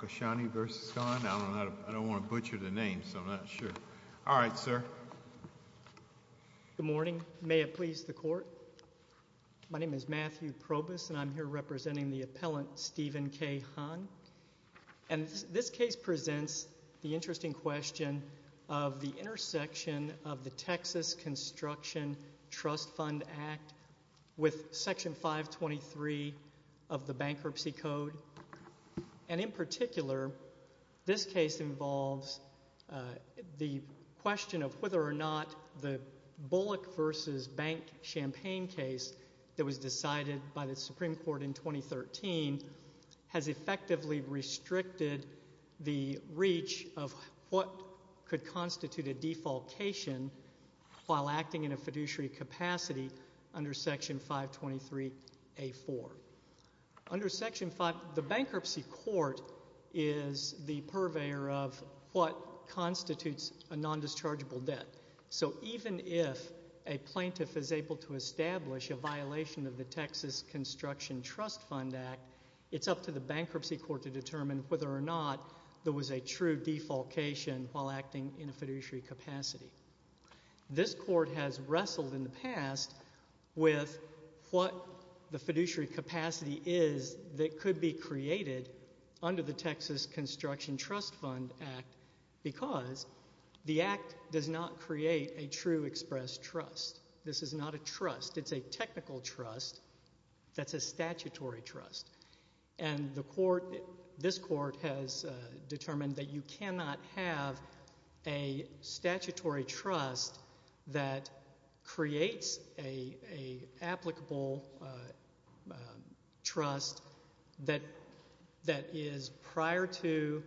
v. Kahn. I don't want to butcher the names, so I'm not sure. All right, sir. Good morning. May it please the Court? My name is Matthew Probus, and I'm here representing the appellant Stephen K. Kahn. And this case presents the interesting question of the intersection of the Texas Construction Trust Fund Act with Section 523 of the Bankruptcy Code. And in particular, this case involves the question of whether or not the Bullock v. Bank Champaign case that was decided by the Supreme Court in 2013 has effectively restricted the reach of what could constitute a defalcation while acting in a fiduciary capacity under Section 523A4. Under Section 523A4, the Bankruptcy Court is the purveyor of what constitutes a nondischargeable debt. So even if a plaintiff is able to establish a violation of the Texas Construction Trust Fund Act, it's up to the Bankruptcy Court to determine whether or not there was a true defalcation while acting in a fiduciary capacity. This Court has wrestled in the past with what the fiduciary capacity is that could be created under the Texas Construction Trust Fund Act because the Act does not create a true express trust. This is not a trust. It's a technical trust that's a statutory trust. And the Court, this Court has determined that you cannot have a statutory trust that creates an applicable trust that is prior to,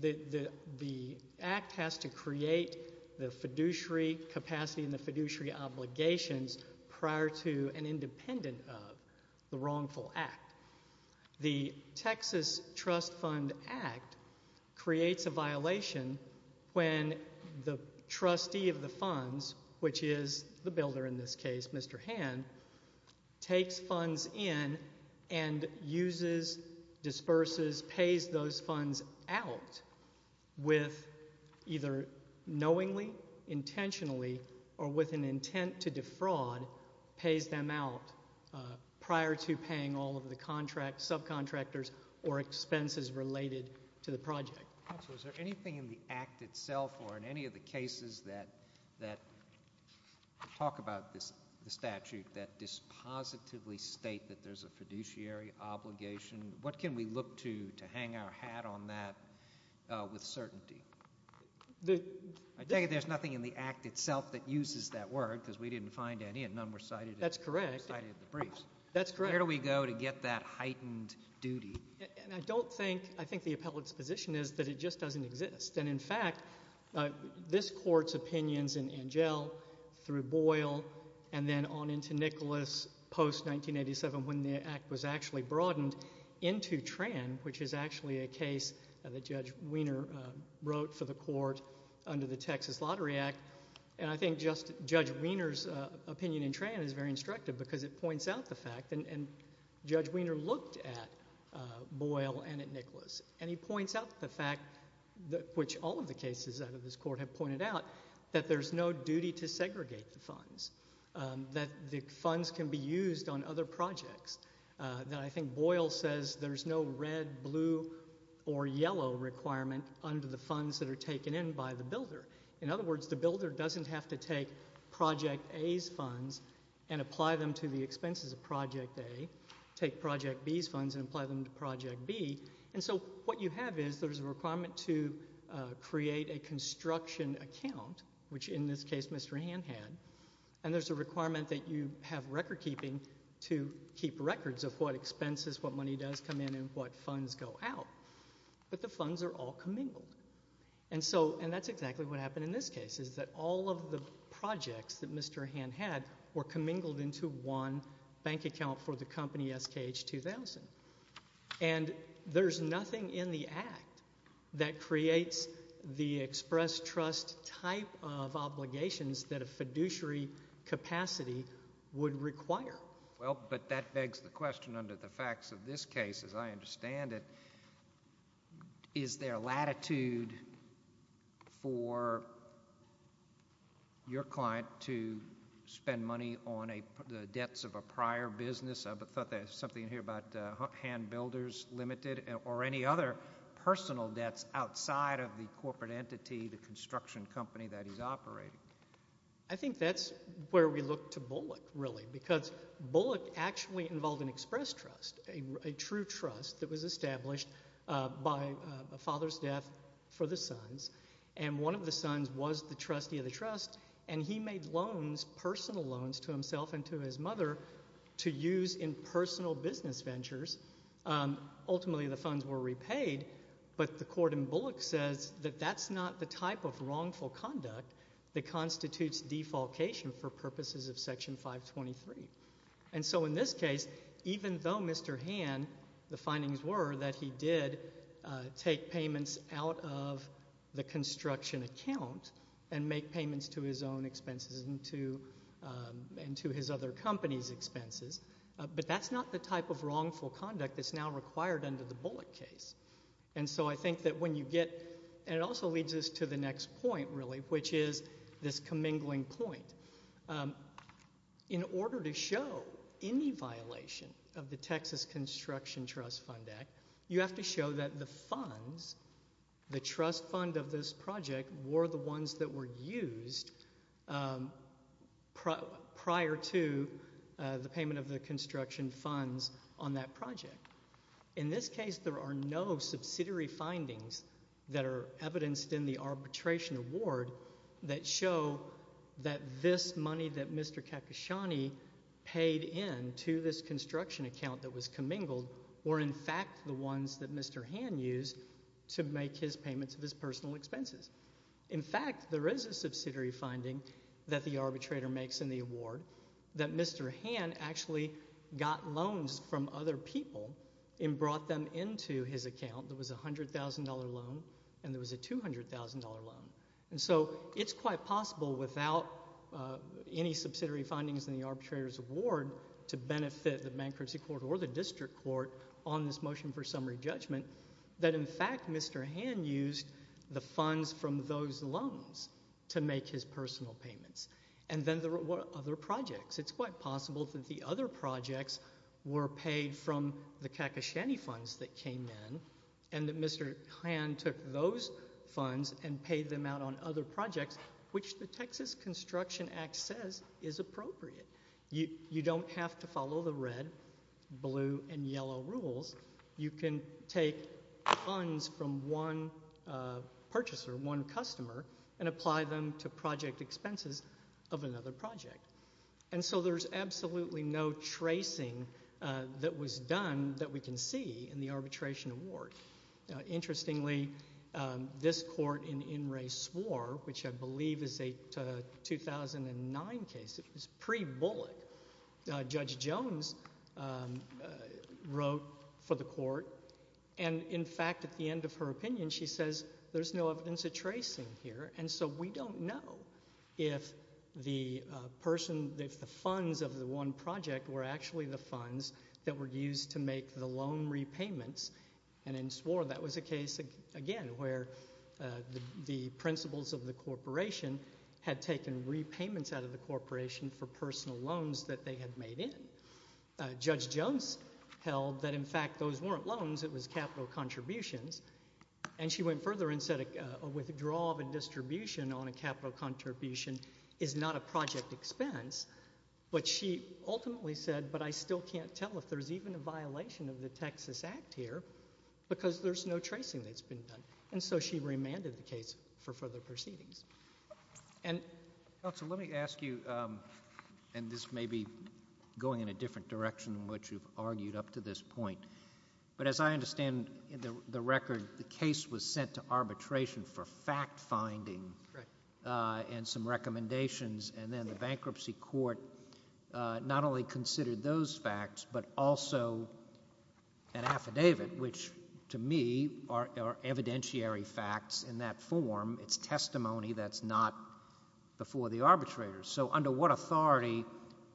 the Act has to create the fiduciary capacity and the fiduciary obligations prior to the and independent of the wrongful act. The Texas Trust Fund Act creates a violation when the trustee of the funds, which is the builder in this case, Mr. Hand, takes funds in and uses, disperses, pays those funds out with either knowingly, intentionally, or with an intent to disperse the funds. And the trustee of the funds is the one that pays them out prior to paying all of the contracts, subcontractors, or expenses related to the project. So is there anything in the Act itself, or in any of the cases that talk about the statute that dispositively state that there's a fiduciary obligation? What can we look to to hang our hat on that with certainty? I take it there's nothing in the Act itself that uses that word because we didn't find any and none were cited in the briefs. That's correct. Where do we go to get that heightened duty? And I don't think, I think the appellate's position is that it just doesn't exist. And in fact, this Court's opinions in Angell, through Boyle, and then on into Nicholas post-1987 when the Act was actually broadened into Tran, which is actually a case that Judge Wiener wrote for the Court under the Texas Lottery Act. And I think just Judge Wiener's opinion in Tran is very instructive because it points out the fact, and Judge Wiener looked at Boyle and at Nicholas, and he points out the fact, which all of the cases out of this Court have pointed out, that there's no duty to segregate the funds, that the funds can be used on other projects, that I think Boyle says there's no red, blue, or yellow requirement under the funds that are taken in by the builder. In other words, the builder doesn't have to take Project A's funds and apply them to the expenses of Project A, take Project B's funds and apply them to Project B, and so what you have is there's a requirement to create a construction account, which in this case Mr. Hand had, and there's a requirement that you have recordkeeping to keep records of what expenses, what money does come in, and what funds go out. But the funds are all commingled. And so, and that's exactly what happened in this case, is that all of the projects that Mr. Hand had were commingled into one bank account for the company SKH 2000. And there's nothing in the Act that creates the express trust type of obligations that a fiduciary capacity would require. Well, but that begs the question under the facts of this case, as I understand it, is there latitude for your client to spend money on the debts of a prior business? I thought there was something in here about Hand Builders Limited, or any other personal debts outside of the corporate entity, the construction company that he's operating. I think that's where we look to Bullock, really, because Bullock actually involved an express trust, a true trust that was established by a father's death for the sons, and one of the sons was the trustee of the trust, and he made loans, personal loans, to himself and to his mother to use in personal business ventures. Ultimately, the funds were repaid, but the court in Bullock says that that's not the type of wrongful conduct that constitutes defalcation for purposes of Section 523. And so in this case, even though Mr. Hand, the findings were that he did take payments out of the construction account and make payments to his own expenses and to his other company's expenses, but that's not the type of wrongful conduct that's now required under the Bullock case. And so I think that when you get, and it also leads us to the next point, really, which is this commingling point. In order to show any violation of the Texas Construction Trust Fund Act, you have to show that the funds, the trust fund of this project, were the ones that were used prior to the payment of the construction funds on that project. In this case, the funds that show that this money that Mr. Kakashani paid into this construction account that was commingled were, in fact, the ones that Mr. Hand used to make his payments of his personal expenses. In fact, there is a subsidiary finding that the arbitrator makes in the award that Mr. Hand actually got loans from other people and brought them into his own account. There was a $100,000 loan and there was a $200,000 loan. And so it's quite possible without any subsidiary findings in the arbitrator's award to benefit the bankruptcy court or the district court on this motion for summary judgment that, in fact, Mr. Hand used the funds from those loans to make his personal payments. And then there were other projects. It's quite possible that the other projects were paid from the Kakashani funds that came in and that Mr. Hand took those funds and paid them out on other projects, which the Texas Construction Act says is appropriate. You don't have to follow the red, blue, and yellow rules. You can take funds from one purchaser, one customer, and apply them to project expenses of another project. And so there's absolutely no tracing that was done that we can see in the arbitration award. Interestingly, this court in In Re Swore, which I believe is a 2009 case, it was pre-bullet, Judge Jones wrote for the court, and in fact at the end of her opinion she says, there's no evidence of tracing here. And so we don't know if the person, if the funds of the one project were actually the funds that were used to make the loan repayments. And in Swore that was a case, again, where the principals of the corporation had taken repayments out of the corporation for personal loans that they had made in. Judge Jones held that in fact those weren't loans, it was capital contributions. And she went further and said a withdrawal of a distribution on a capital contribution is not a project expense. But she ultimately said, but I still can't tell if there's even a violation of the Texas Act here, because there's no tracing that's been done. And so she remanded the case for further proceedings. And, counsel, let me ask you, and this may be going in a different direction than what you've argued up to this point, but as I understand in the record, the case was sent to arbitration for fact-finding and some recommendations, and then the bankruptcy court not only considered those facts, but also an affidavit, which to me are, are evidentiary facts in that form. It's testimony that's not before the arbitrator. So under what authority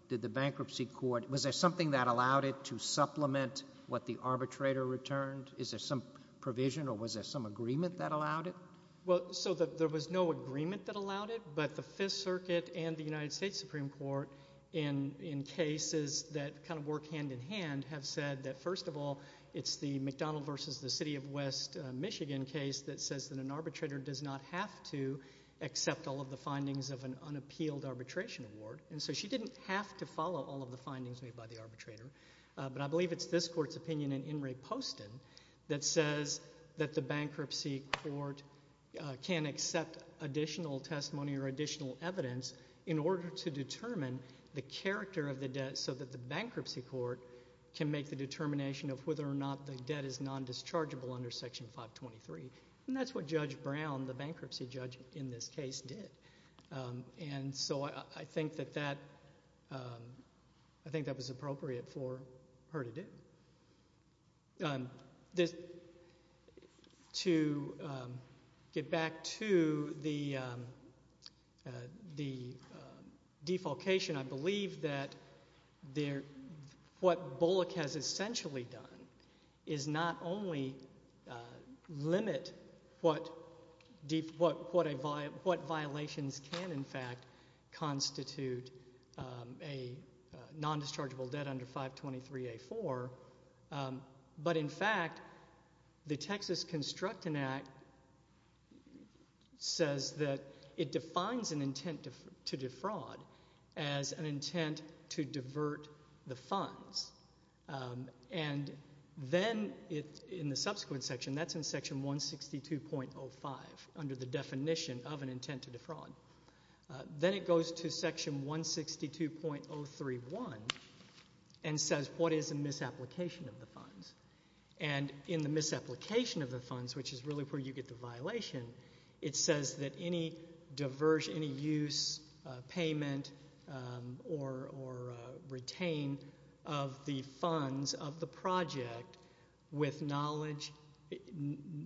did the bankruptcy court, was there something that allowed it to supplement what the arbitrator returned? Is there some provision or was there some agreement that allowed it? Well, so the, there was no agreement that allowed it, but the court and the United States Supreme Court in, in cases that kind of work hand-in-hand have said that, first of all, it's the McDonnell versus the City of West Michigan case that says that an arbitrator does not have to accept all of the findings of an unappealed arbitration award. And so she didn't have to follow all of the findings made by the arbitrator. But I believe it's this court's opinion in In Re Posted that says that the bankruptcy court can accept additional testimony or additional evidence in order to determine the character of the debt so that the bankruptcy court can make the determination of whether or not the debt is non-dischargeable under Section 523. And that's what Judge Brown, the bankruptcy judge in this case, did. And so I, I think that that, I think that was appropriate for her to do. This, to get back to the, the defalcation, I believe that there, what Bullock has essentially done is not only limit what, what, what a, what violations can in fact constitute a non-dischargeable debt under 523A4, but in fact, the Texas Constructing Act says that it defines an intent to defraud as an intent to divert the funds. And then it, in the subsequent section, that's in Section 162.05, under the definition of an intent to defraud. Then it goes to Section 162.031 and says what is a misapplication of the funds. And in the misapplication of the funds, which is really where you get the violation, it says that any diversion, any use, payment, or, or retain of the funds of the project with knowledge,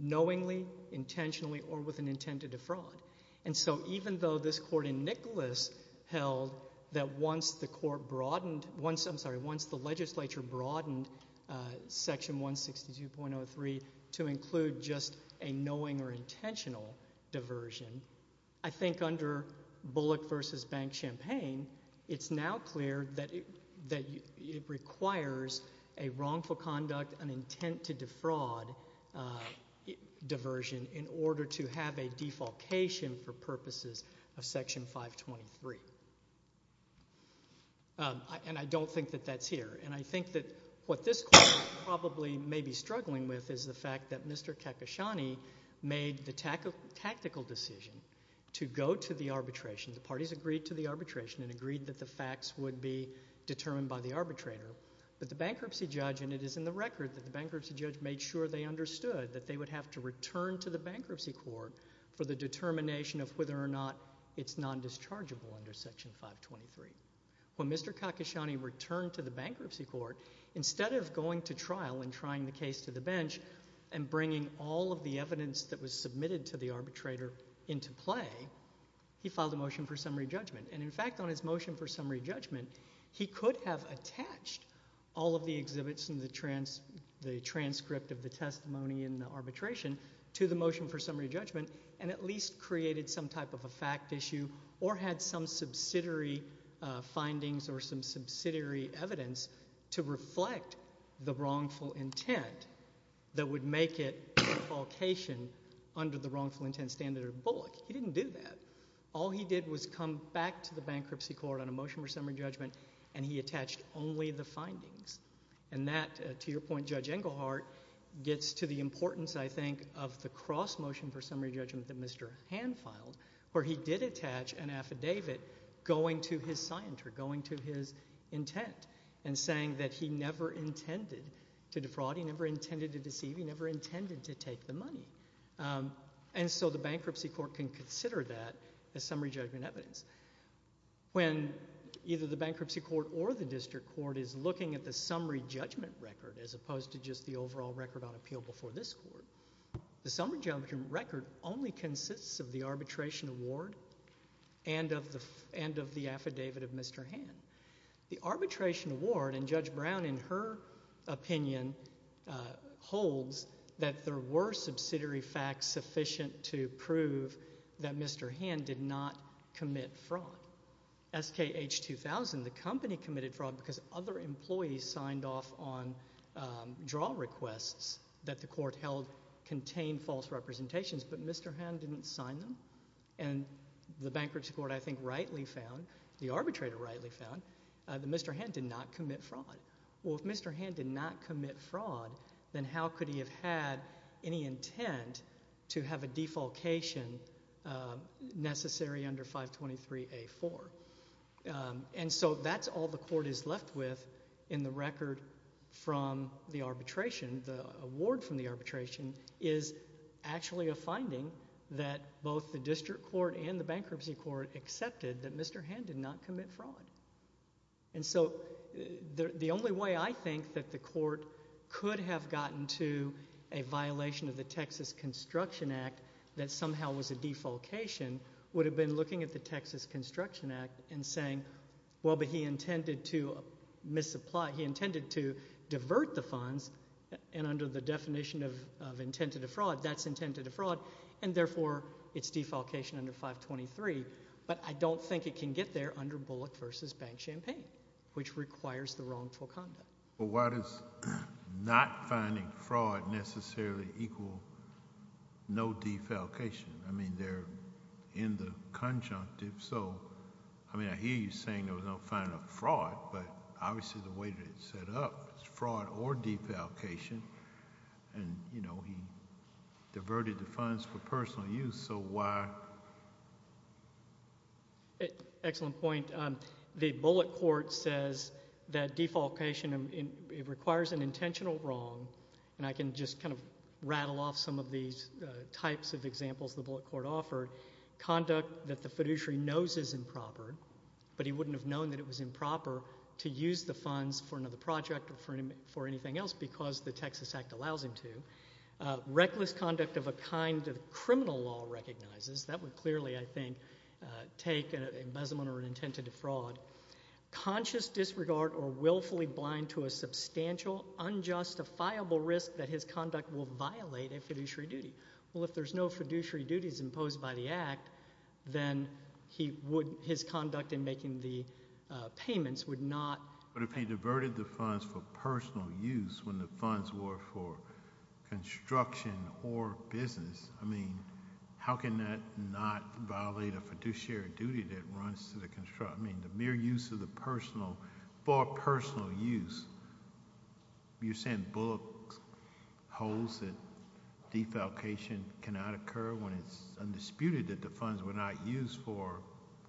knowingly, intentionally, or with an intent to defraud. And so even though this court in Nicholas held that once the court broadened, once, I'm sorry, once the legislature broadened Section 162.03 to include just a knowing or intentional diversion, I think under Bullock v. Bank Champaign, it's now clear that, that it requires a wrongful conduct, an intent to defraud diversion in order to have a defalcation for purposes of Section 523. And I don't think that that's here. And I think that what this court probably may be struggling with is the fact that Mr. Kakashani made the tactical decision to go to the arbitration. The parties agreed to the arbitration and agreed that the facts would be determined by the arbitrator. But the bankruptcy judge, and it is in the record that the bankruptcy judge made sure they understood that they would have to return to the bankruptcy court for the determination of whether or not it's non-dischargeable under Section 523. When Mr. Kakashani returned to the bankruptcy court, instead of going to trial and trying the case to the bench and bringing all of the evidence that was submitted to the arbitrator into play, he filed a motion for summary judgment. And in fact, on his motion for summary judgment, he could have attached all of the exhibits and the transcript of the testimony in the arbitration to the motion for summary judgment and at least created some type of a fact issue or had some subsidiary findings or some subsidiary evidence to reflect the wrongful intent that would make it a falcation under the wrongful intent standard of Bullock. He didn't do that. All he did was come back to the bankruptcy court on a motion for summary judgment and he attached only the findings. And that, to your point, Judge Engelhardt, gets to the importance, I think, of the cross motion for summary judgment that Mr. Hand filed, where he did attach an affidavit going to his scienter, going to his intent, and saying that he never intended to deceive, he never intended to take the money. And so the bankruptcy court can consider that as summary judgment evidence. When either the bankruptcy court or the district court is looking at the summary judgment record as opposed to just the overall record on appeal before this court, the summary judgment record only consists of the arbitration award and of the affidavit of Mr. Hand. The arbitration award, and Judge Brown, in her opinion, holds that there were subsidiary facts sufficient to prove that Mr. Hand did not commit fraud. SKH 2000, the company committed fraud because other employees signed off on draw requests that the court held contained false representations, but Mr. Hand didn't sign them. And the bankruptcy court, I think, rightly found, the arbitrator rightly found, that Mr. Hand did not commit fraud. Well, if Mr. Hand did not commit fraud, then how could he have had any intent to have a defalcation necessary under 523A4? And so that's all the court is left with in the record from the arbitration. The award from the arbitration is actually a finding that both the district court and the bankruptcy court accepted that Mr. Hand did not commit fraud. And so the only way I think that the court could have gotten to a violation of the Texas Construction Act that somehow was a defalcation would have been looking at the Texas Construction Act and saying, well, but he intended to misapply, he intended to divert the funds, and under the definition of intent to defraud, that's intent to defraud, and therefore it's defalcation under 523, but I don't think it can get there under Bullock v. Bank Champaign, which requires the wrongful conduct. But why does not finding fraud necessarily equal no defalcation? I mean, they're in the conjunctive, so, I mean, I hear you saying there was no finding of fraud, but obviously the way that it's set up, it's fraud or defalcation, and, you know, he diverted the funds for personal use, so why? Excellent point. The Bullock court says that defalcation requires an intentional wrong, and I can just kind of rattle off some of these types of examples the Bullock court offered. Conduct that the fiduciary knows is improper, but he wouldn't have known that it was improper to use the funds for another project or for anything else because the Texas Act allows him to. Reckless conduct of a kind that criminal law recognizes, that would clearly, I think, take an embezzlement or an intent to defraud. Conscious disregard or willfully blind to a substantial, unjustifiable risk that his conduct will violate a fiduciary duty. Well, if there's no fiduciary duties imposed by the Act, then his conduct in making the payments would not... But if he diverted the funds for personal use when the funds were for construction or business, I mean, how can that not violate a fiduciary duty that runs to the... I mean, the mere use of the personal... for personal use. You're saying Bullock holds that defalcation cannot occur when it's undisputed that the funds were not used for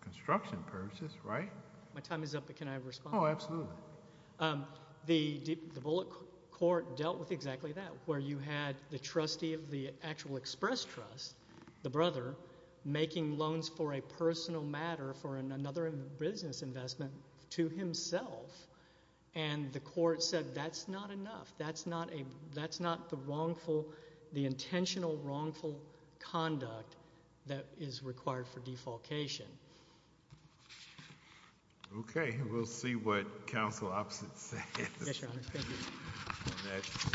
construction purposes, right? My time is up, but can I respond? Oh, absolutely. The Bullock court dealt with exactly that, where you had the trustee of the actual express trust, the brother, making loans for a personal matter, for another business investment to himself, and the court said that's not enough. That's not the wrongful, the intentional wrongful conduct that is required for defalcation. Okay. We'll see what counsel opposite says. Yes, Your Honor. Thank you.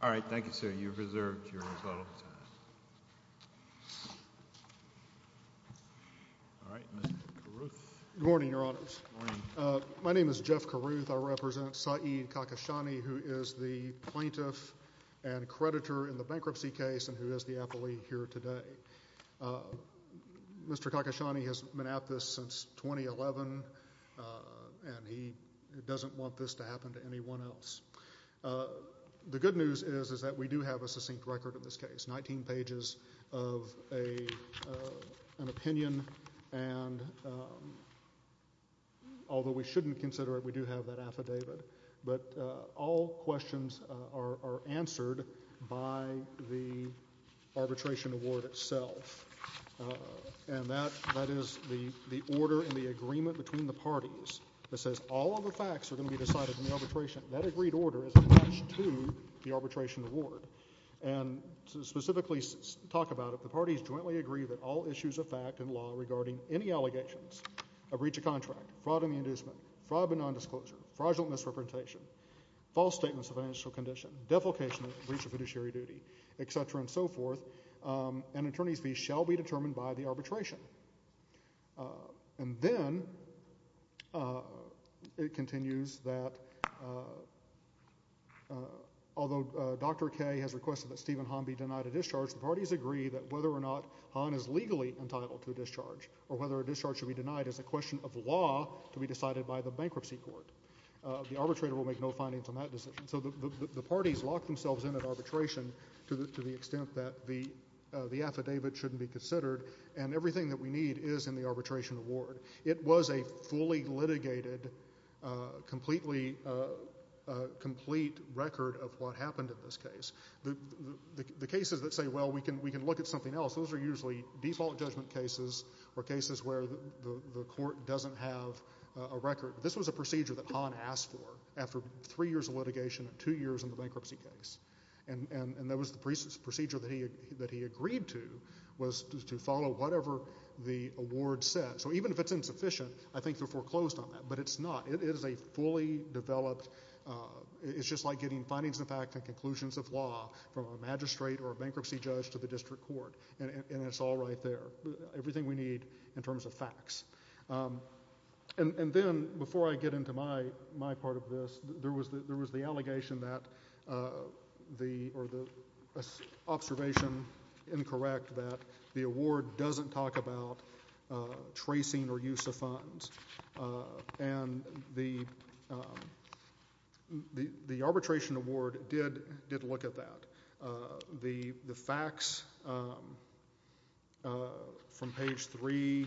All right. Thank you, sir. You've reserved your rebuttal time. All right. Mr. Carruth. Good morning, Your Honors. Good morning. My name is Jeff Carruth. I represent Saeed Kakashani, who is the plaintiff and creditor in the bankruptcy case and who is the appellee here today. Mr. Kakashani has been at this since 2011, and he doesn't want this to happen to anyone else. The good news is, is that we do have a succinct record of this case, 19 pages of an opinion, and although we shouldn't consider it, we do have that affidavit. But all questions are answered by the arbitration award itself, and that is the order and the agreement between the parties that says all of the facts are going to be decided in the arbitration. That agreed order is attached to the arbitration award, and to specifically talk about it, the parties jointly agree that all issues of fact and law regarding any allegations of breach of contract, fraud in the inducement, fraud by nondisclosure, fraudulent misrepresentation, false statements of financial condition, defecation of breach of fiduciary duty, et cetera and so forth, an attorney's fee shall be determined by the arbitration. And then it continues that although Dr. Kaye has requested that Stephen Hahn be denied a discharge, the parties agree that whether or not Hahn is legally entitled to a discharge or whether a discharge should be denied is a question of law to be decided by the bankruptcy court. The arbitrator will make no findings on that decision. So the parties lock themselves in at arbitration to the extent that the affidavit shouldn't be considered, and everything that we need is in the arbitration award. It was a fully litigated, completely complete record of what happened in this case. The cases that say, well, we can look at something else, those are usually default judgment cases or a case that doesn't have a record. This was a procedure that Hahn asked for after three years of litigation and two years in the bankruptcy case, and that was the procedure that he agreed to was to follow whatever the award said. So even if it's insufficient, I think they're foreclosed on that, but it's not. It is a fully developed, it's just like getting findings of fact and conclusions of law from a magistrate or a bankruptcy judge to the district court, and it's all right there, everything we need in terms of facts. And then, before I get into my part of this, there was the allegation that, or the observation, incorrect, that the award doesn't talk about tracing or use of funds, and the arbitration award did look at that. The facts from page 3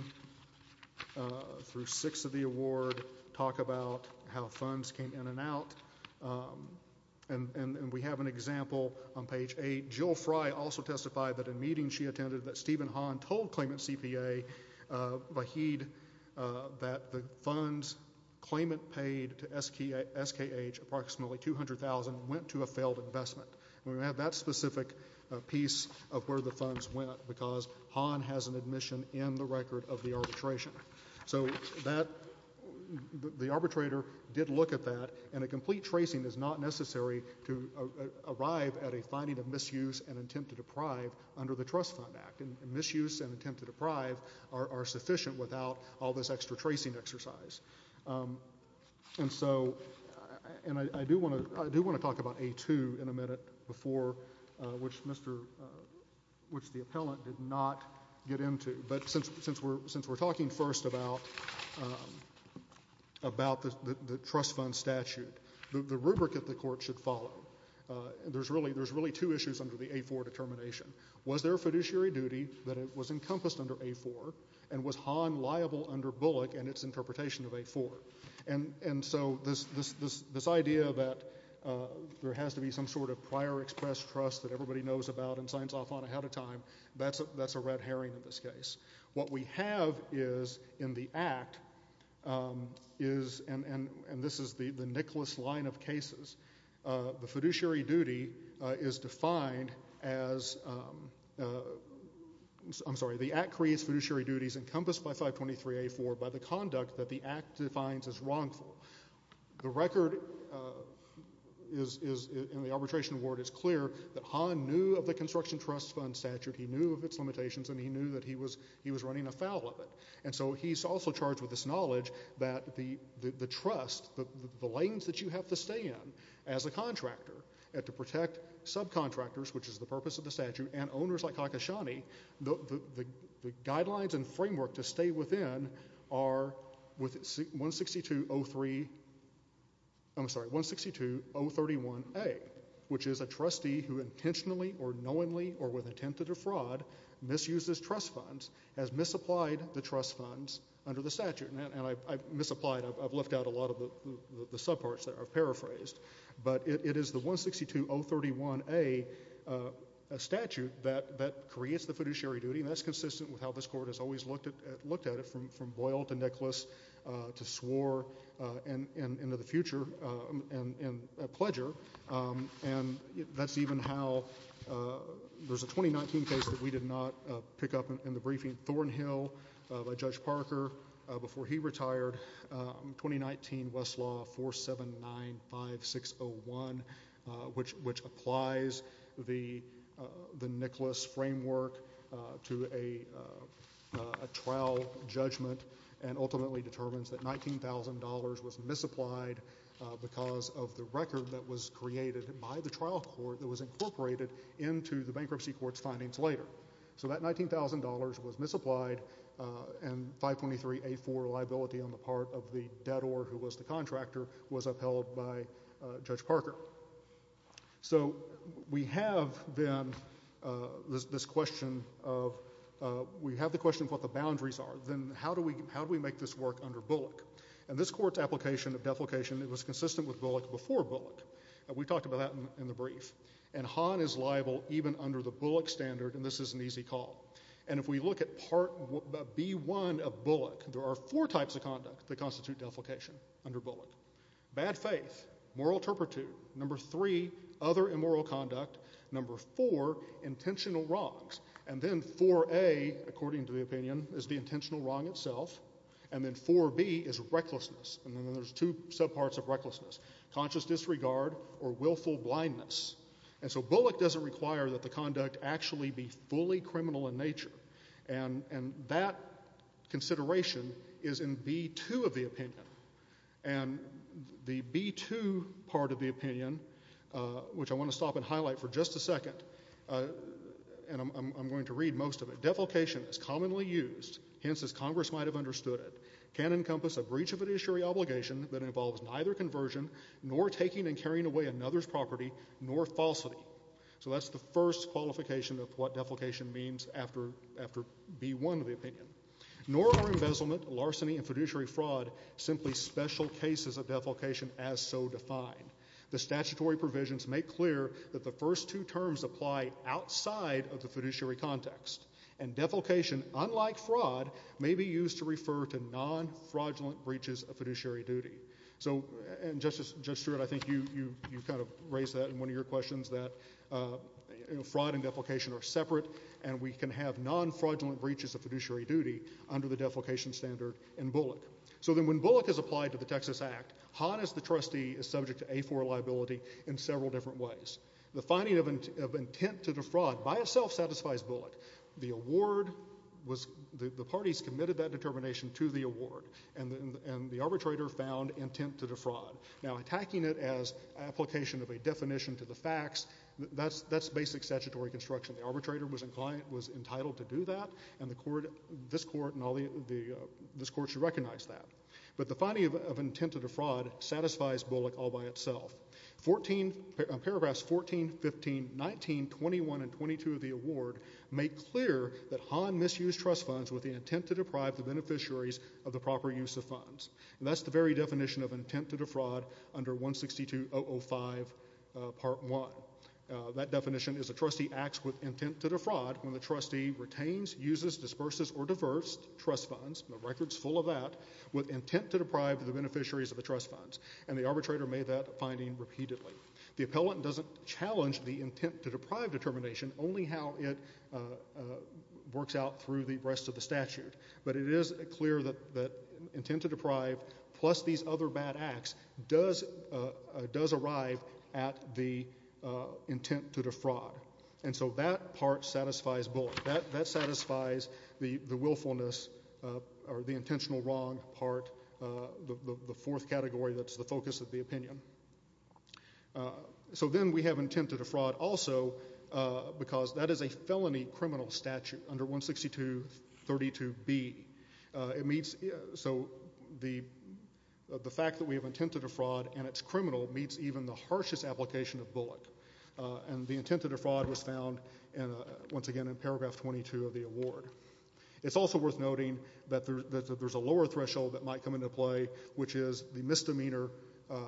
through 6 of the award talk about how funds came in and out, and we have an example on page 8. Jill Fry also testified that in meetings she attended that Stephen Hahn told claimant CPA, Vahid, that the funds claimant paid to SKH approximately $200,000 and went to a failed investment. And we have that specific piece of where the funds went, because Hahn has an admission in the record of the arbitration. So that, the arbitrator did look at that, and a complete tracing is not necessary to arrive at a finding of misuse and attempt to deprive under the Trust Fund Act, and misuse and attempt to deprive are sufficient without all this extra tracing exercise. And so, and I do want to talk about A2 in a minute before, which the appellant did not get into, but since we're talking first about the trust fund statute, the rubric that the court should follow, there's really two issues under the A4 determination. Was there a fiduciary duty that was encompassed under A4, and was Hahn liable under Bullock and its interpretation of A4? And so, this idea that there has to be some sort of prior expressed trust that everybody knows about and signs off on ahead of time, that's a red herring in this case. What we have is, in the Act, is, and this is the Nicholas line of cases, the fiduciary duty is defined as, I'm sorry, the Act creates fiduciary duties encompassed by 523A4 by the Act defines as wrongful. The record is, in the arbitration ward, is clear that Hahn knew of the construction trust fund statute. He knew of its limitations, and he knew that he was running afoul of it. And so, he's also charged with this knowledge that the trust, the lanes that you have to stay in as a contractor, and to protect subcontractors, which is the purpose of the statute, and owners like Kakashani, the guidelines and framework to stay within are with 162.03, I'm sorry, 162.031A, which is a trustee who intentionally or knowingly or with intent to defraud misuses trust funds, has misapplied the trust funds under the statute. And I misapplied, I've left out a lot of the subparts there, I've paraphrased. But it is the 162.031A statute that creates the fiduciary duty, and that's consistent with how this case, from Boyle to Nicholas, to Swore, and to the future, and Pledger, and that's even how there's a 2019 case that we did not pick up in the briefing, Thornhill, by Judge Parker before he retired, 2019 Westlaw 4795601, which applies the Nicholas framework to a trial judgment and ultimately determines that $19,000 was misapplied because of the record that was created by the trial court that was incorporated into the bankruptcy court's findings later. So that $19,000 was misapplied, and 523A4 liability on the part of the debtor who was the contractor was upheld by Judge Parker. So we have, then, this question of, we have the question of what the boundaries are. Then how do we make this work under Bullock? And this court's application of deflecation, it was consistent with Bullock before Bullock, and we talked about that in the brief. And Hahn is liable even under the Bullock standard, and this is an easy call. And if we look at Part B1 of Bullock, there are four types of conduct that constitute deflecation under Bullock. Bad faith, moral turpitude, number three, other immoral conduct, number four, intentional wrongs, and then 4A, according to the opinion, is the intentional wrong itself, and then 4B is recklessness, and then there's two subparts of recklessness, conscious disregard or willful blindness. And so Bullock doesn't require that the conduct actually be fully criminal in nature, and that consideration is in B2 of the opinion. And the B2 of the opinion, which I want to stop and highlight for just a second, and I'm going to read most of it. Deflecation is commonly used, hence as Congress might have understood it, can encompass a breach of an issuery obligation that involves neither conversion nor taking and carrying away another's property nor falsity. So that's the first qualification of what deflecation means after B1 of the opinion. Nor are embezzlement, larceny, and fiduciary fraud simply special cases of deflecation as so defined. The statutory provisions make clear that the first two terms apply outside of the fiduciary context, and deflecation, unlike fraud, may be used to refer to non-fraudulent breaches of fiduciary duty. So, and Justice Stewart, I think you kind of raised that in one of your questions, that fraud and deflecation are separate, and we can have non-fraudulent breaches of fiduciary duty under the deflecation standard in Bullock. So then when Bullock is applied to the Texas Act, Hahn as the trustee is subject to A4 liability in several different ways. The finding of intent to defraud by itself satisfies Bullock. The award was, the parties committed that determination to the award, and the arbitrator found intent to defraud. Now attacking it as application of a definition to the facts, that's basic statutory construction. The arbitrator was entitled to do that, and the court, this court, and all the, this court should recognize that. But the finding of intent to defraud satisfies Bullock all by itself. Fourteen, paragraphs 14, 15, 19, 21, and 22 of the award make clear that Hahn misused trust funds with the intent to deprive the beneficiaries of the proper use of funds. And that's the very definition of intent to defraud under 162.005 Part 1. That definition is a trustee acts with intent to defraud when the trustee retains, uses, disperses, or diverts trust funds, the record's full of that, with intent to deprive the beneficiaries of the trust funds. And the arbitrator made that finding repeatedly. The appellant doesn't challenge the intent to deprive determination, only how it works out through the rest of the statute. But it is clear that intent to deprive plus these other bad acts does arrive at the intent to defraud. And so that part satisfies Bullock. That satisfies the willfulness or the intentional wrong part, the fourth category that's the focus of the opinion. So then we have intent to defraud also because that is a felony criminal statute under 162.32b. It meets, so the fact that we have intent to defraud and it's criminal meets even the harshest application of Bullock. And the intent to defraud was found once again in paragraph 22 of the award. It's also worth noting that there's a lower threshold that might come into play, which is the misdemeanor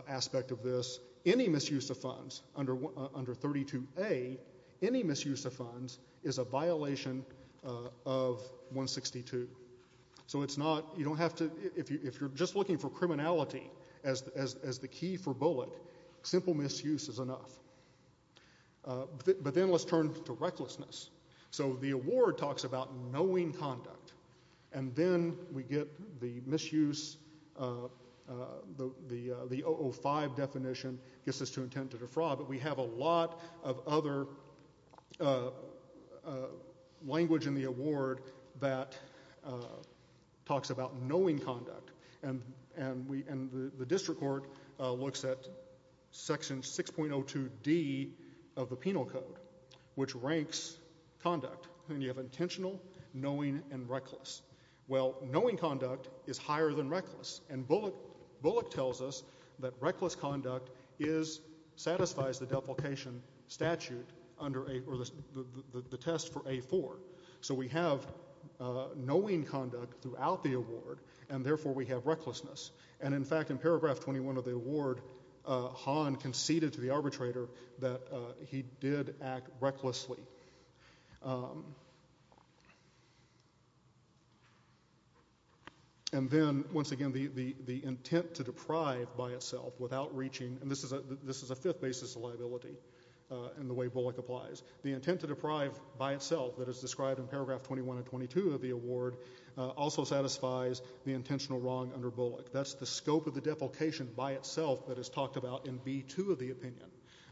aspect of this. Any misuse of funds under 32a, any misuse of funds is a violation of 162. So it's not, you don't have to, if you're just looking for criminality as the key for Bullock, simple misuse is enough. But then let's turn to recklessness. So the award talks about knowing conduct. And then we get the misuse, the 005 definition gets us to intent to defraud but we have a lot of other language in the award that talks about knowing conduct. And the district court looks at section 6.02d of the penal code, which ranks conduct. And you have intentional, knowing, and reckless. Well, knowing conduct is higher than reckless. And Bullock tells us that reckless conduct satisfies the deprecation statute under the test for a4. So we have knowing conduct throughout the award and therefore we have recklessness. And in fact in paragraph 21 of the award, Hahn conceded to the arbitrator that he did act recklessly. And then once again the intent to deprive by itself without reaching, and this is a fifth basis of liability in the way Bullock applies. The intent to deprive by itself that is described in paragraph 21 and 22 of the award also satisfies the intentional wrong under Bullock. That's the scope of the defecation by itself that is talked about in B2 of the opinion.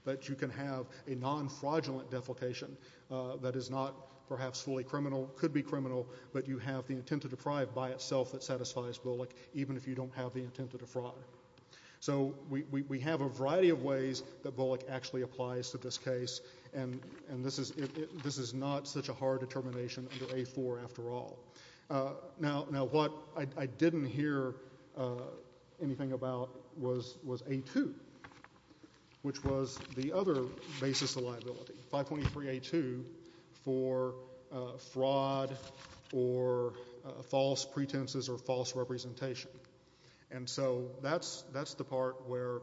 That you can have a non-fraudulent defecation that is not perhaps fully criminal, could be criminal, but you have the intent to deprive by itself that satisfies Bullock even if you don't have the intent to defraud. So we have a variety of ways that Bullock actually applies to this case and this is not such a hard determination under a4 after all. Now what I didn't hear anything about was a2, which was the other basis of liability, 523a2 for fraud or false pretenses or false representation. And so that's the part where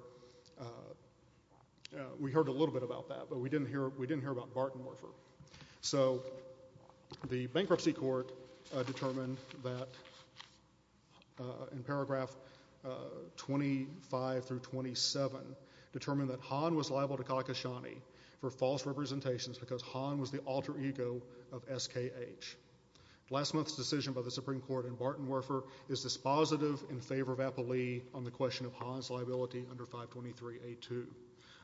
we heard a little bit about that, but we didn't hear about Barton Werfer. So the bankruptcy court determined that in paragraph 25 through 27, determined that Hahn was liable to Kakashani for false representations because Hahn was the alter ego of SKH. Last month's decision by the Supreme Court in Barton Werfer is dispositive in favor of Apolli on the question of Hahn's liability under 523a2.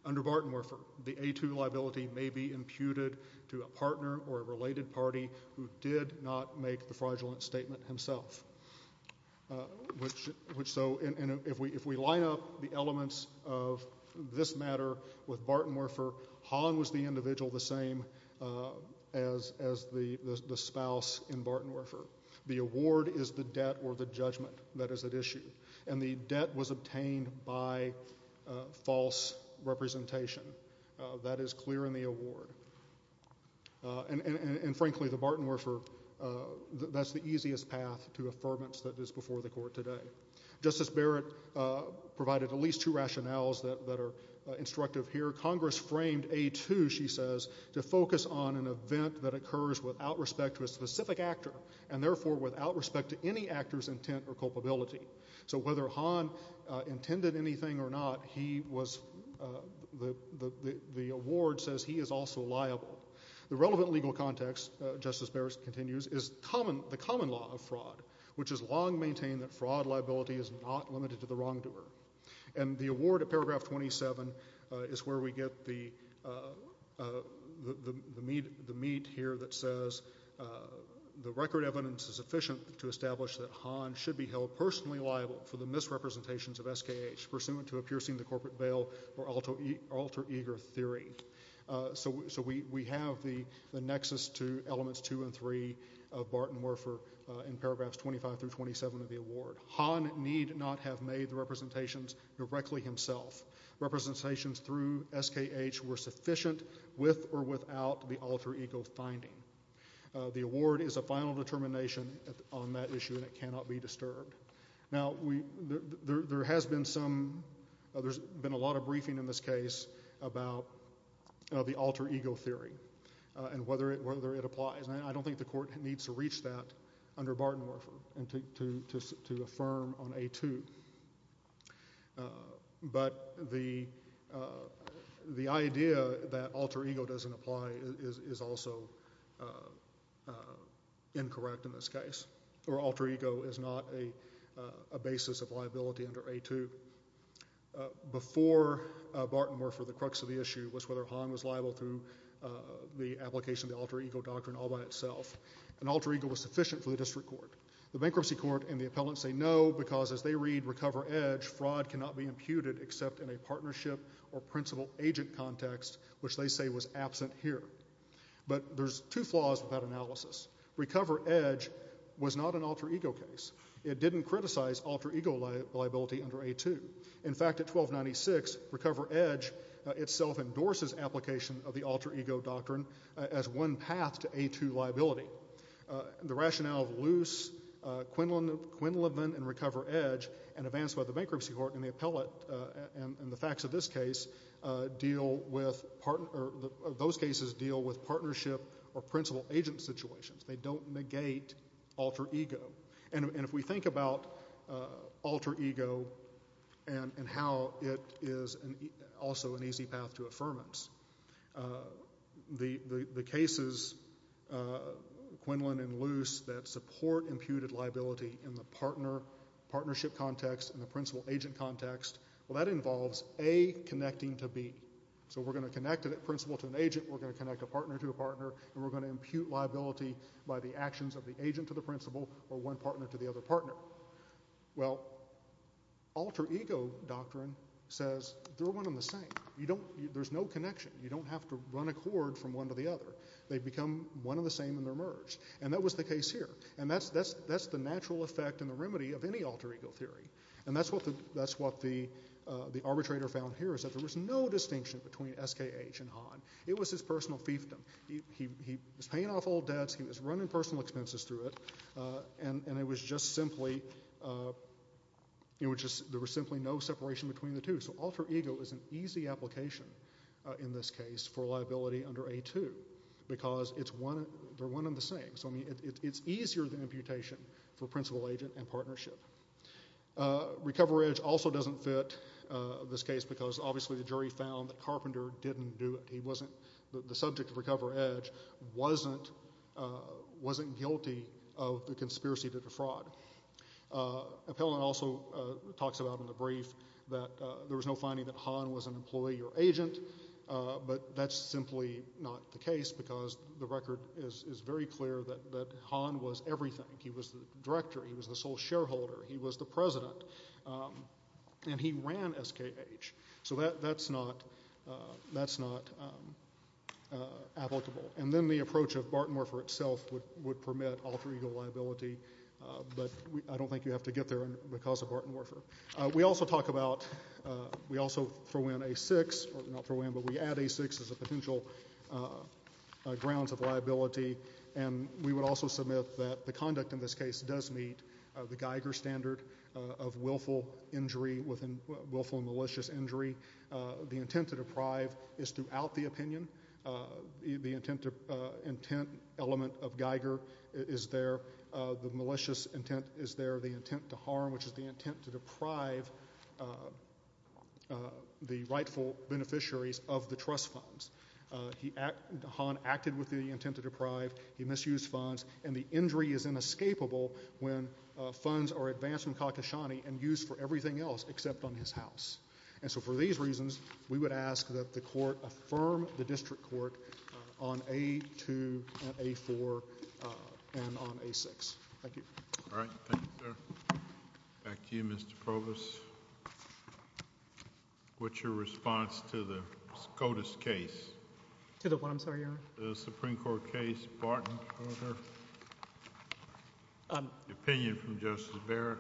Under Barton Werfer, the a2 liability may be imputed to a partner or a related party who did not make the fraudulent statement himself. So if we line up the elements of this matter with Barton Werfer, Hahn was the individual the same as the spouse in Barton Werfer. The award is the debt or the judgment that is at issue and the debt was obtained by false representation. That is clear in the award. And frankly, the Barton Werfer, that's the easiest path to affirmance that is before the court today. Justice Barrett provided at least two rationales that are instructive here. Congress framed a2, she says, to focus on an event that occurs without respect to a specific actor and therefore without respect to any actor's intent or culpability. So whether Hahn intended anything or not, he was, the award says he is also liable. The relevant legal context, Justice Barrett continues, is the common law of fraud, which has long maintained that fraud liability is not limited to the wrongdoer. And the award at paragraph 27 is where we get the meat here that says the record evidence is efficient to establish that Hahn should be held personally liable for the misrepresentations of SKH pursuant to a piercing the corporate veil or alter ego theory. So we have the nexus to elements two and three of Barton Werfer in paragraphs 25 through 27 of the award. Hahn need not have made the representations directly himself. Representations through SKH were sufficient with or without the alter ego finding. The award is a final determination on that issue and it cannot be disturbed. Now, there has been some, there's been a lot of briefing in this case about the alter ego theory and whether it applies. And I don't think the court needs to reach that under Barton Werfer to affirm on a2. But the idea that the alter ego doesn't apply is also incorrect in this case. Or alter ego is not a basis of liability under a2. Before Barton Werfer, the crux of the issue was whether Hahn was liable through the application of the alter ego doctrine all by itself. And alter ego was sufficient for the district court. The bankruptcy court and the appellant say no because as they read recover edge, fraud cannot be imputed except in a partnership or principal agent context which they say was absent here. But there's two flaws of that analysis. Recover edge was not an alter ego case. It didn't criticize alter ego liability under a2. In fact at 1296 recover edge itself endorses application of the alter ego doctrine as one path to a2 liability. The rationale of loose, Quinlan and recover edge and advanced by the bankruptcy court and the appellant and the facts of this case deal with, those cases deal with partnership or principal agent situations. They don't negate alter ego. And if we think about alter ego and how it is also an easy path to affirmance, the cases, Quinlan and loose that support imputed liability in the partner, partnership context and the principal agent context. Well that involves A connecting to B. So we're going to connect a principal to an agent, we're going to connect a partner to a partner and we're going to impute liability by the actions of the agent to the principal or one partner to the other partner. Well alter ego doctrine says they're one and the same. You don't, there's no connection. You don't have to run a cord from one to the other. They become one and the same in their merge. And that was the case here. And that's the natural effect and the remedy of any alter ego theory. And that's what the arbitrator found here is that there was no distinction between SKH and Hahn. It was his personal fiefdom. He was paying off old debts, he was running personal expenses through it and it was just simply, it was just, there was simply no separation between the two. So alter ego is an easy application in this case for liability under a2 because it's one, they're one and the same. So I mean it's easier than imputation for principal agent and partnership. Recover edge also doesn't fit this case because obviously the jury found that Carpenter didn't do it. He wasn't, the subject of recover edge wasn't, wasn't guilty of the conspiracy to defraud. Appellant also talks about in the brief that there was no distinction between SKH and Hahn. Hahn was an employee or agent. But that's simply not the case because the record is very clear that Hahn was everything. He was the director, he was the sole shareholder, he was the president. And he ran SKH. So that's not applicable. And then the approach of Barton-Werfer itself would permit alter ego liability. But I don't think you have to get there because of Barton-Werfer. We also talk about, we also throw in a6, not throw in, but we add a6 as a potential grounds of liability. And we would also submit that the conduct in this case does meet the Geiger standard of willful injury, willful malicious injury. The intent to deprive is throughout the opinion. The intent element of Geiger is there. The malicious intent is there. The intent to harm, which is the intent to deprive the rightful beneficiaries of the trust funds. He, Hahn, acted with the intent to deprive. He misused funds. And the injury is inescapable when funds are advanced from Kakashani and used for everything else except on his house. And so for these reasons, we affirm the district court on a2 and a4 and on a6. Thank you. All right. Thank you, sir. Back to you, Mr. Provost. What's your response to the SCOTUS case? To the what, I'm sorry, Your Honor? The Supreme Court case, Barton-Werfer. Opinion from Justice Barrett.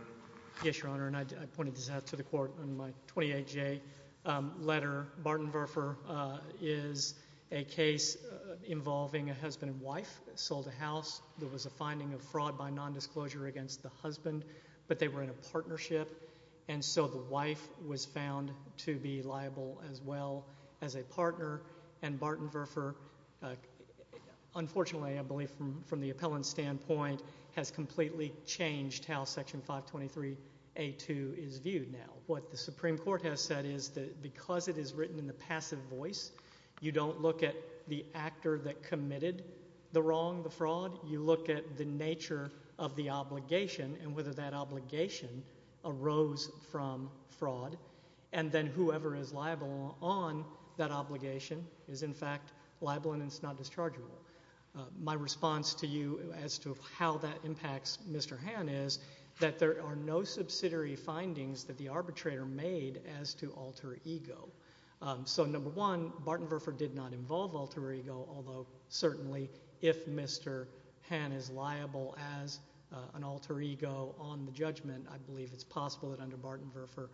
Yes, Your Honor. And I pointed this out to the court in my 28-J letter. Barton-Werfer is a case involving a husband and wife. Sold a house. There was a finding of fraud by nondisclosure against the husband. But they were in a partnership. And so the wife was found to be liable as well as a partner. And Barton-Werfer, unfortunately, I believe from the appellant standpoint, has completely changed how Section 523a2 is viewed now. What the Supreme Court has said is that because it is written in the passive voice, you don't look at the actor that committed the wrong, the fraud. You look at the nature of the obligation and whether that obligation arose from fraud. And then whoever is liable on that obligation is, in fact, liable and is not dischargeable. My response to you as to how that impacts Mr. Hann is that there are no subsidiary findings that the arbitrator made as to alter ego. So, number one, Barton-Werfer did not involve alter ego, although certainly if Mr. Hann is liable as an alter ego on the judgment, I believe it's possible that under Barton-Werfer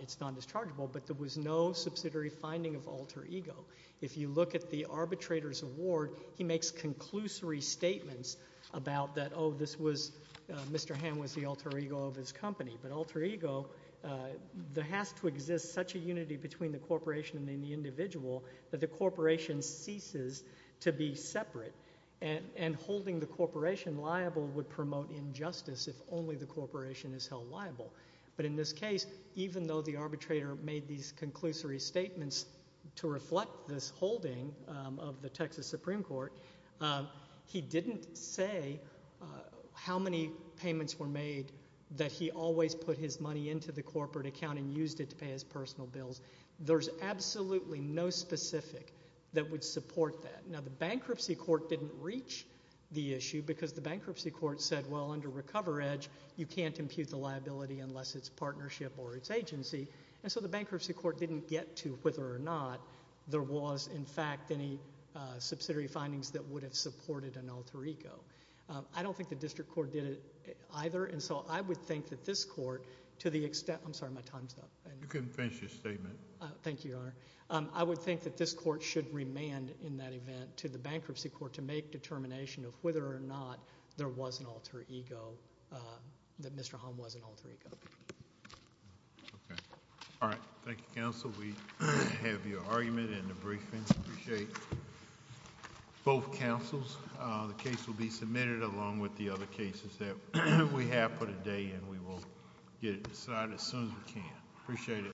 it's non-dischargeable. But there was no subsidiary finding of alter ego. If you look at the arbitrator's award, he makes conclusory statements about that, oh, this was, Mr. Hann was the alter ego of his company. But alter ego, there has to exist such a unity between the corporation and the individual that the corporation ceases to be separate. And holding the corporation liable would promote injustice if only the corporation is held liable. But in this case, even though the arbitrator made these conclusory statements to reflect this holding of the Texas Supreme Court, he didn't say how many payments were made that he always put his money into the corporate account and used it to pay his personal bills. There's absolutely no specific that would support that. Now, the bankruptcy court didn't reach the issue because the bankruptcy court said, well, under RecoverEdge, you can't impute the liability unless it's partnership or it's agency. And so the bankruptcy court didn't get to whether or not there was, in fact, any subsidiary findings that would have supported an alter ego. I don't think the district court did it either. And so I would think that this court, to the extent, I'm sorry, my time's up. You can finish your statement. Thank you, Your Honor. I would think that this court should remand in that event to the bankruptcy court to make determination of whether or not there was an alter ego, that Mr. Hann was an alter ego. Okay. All right. Thank you, counsel. We have your argument in the briefing. Appreciate both counsels. The case will be submitted along with the other cases that we have for today, and we will get it decided as soon as we can. Appreciate it.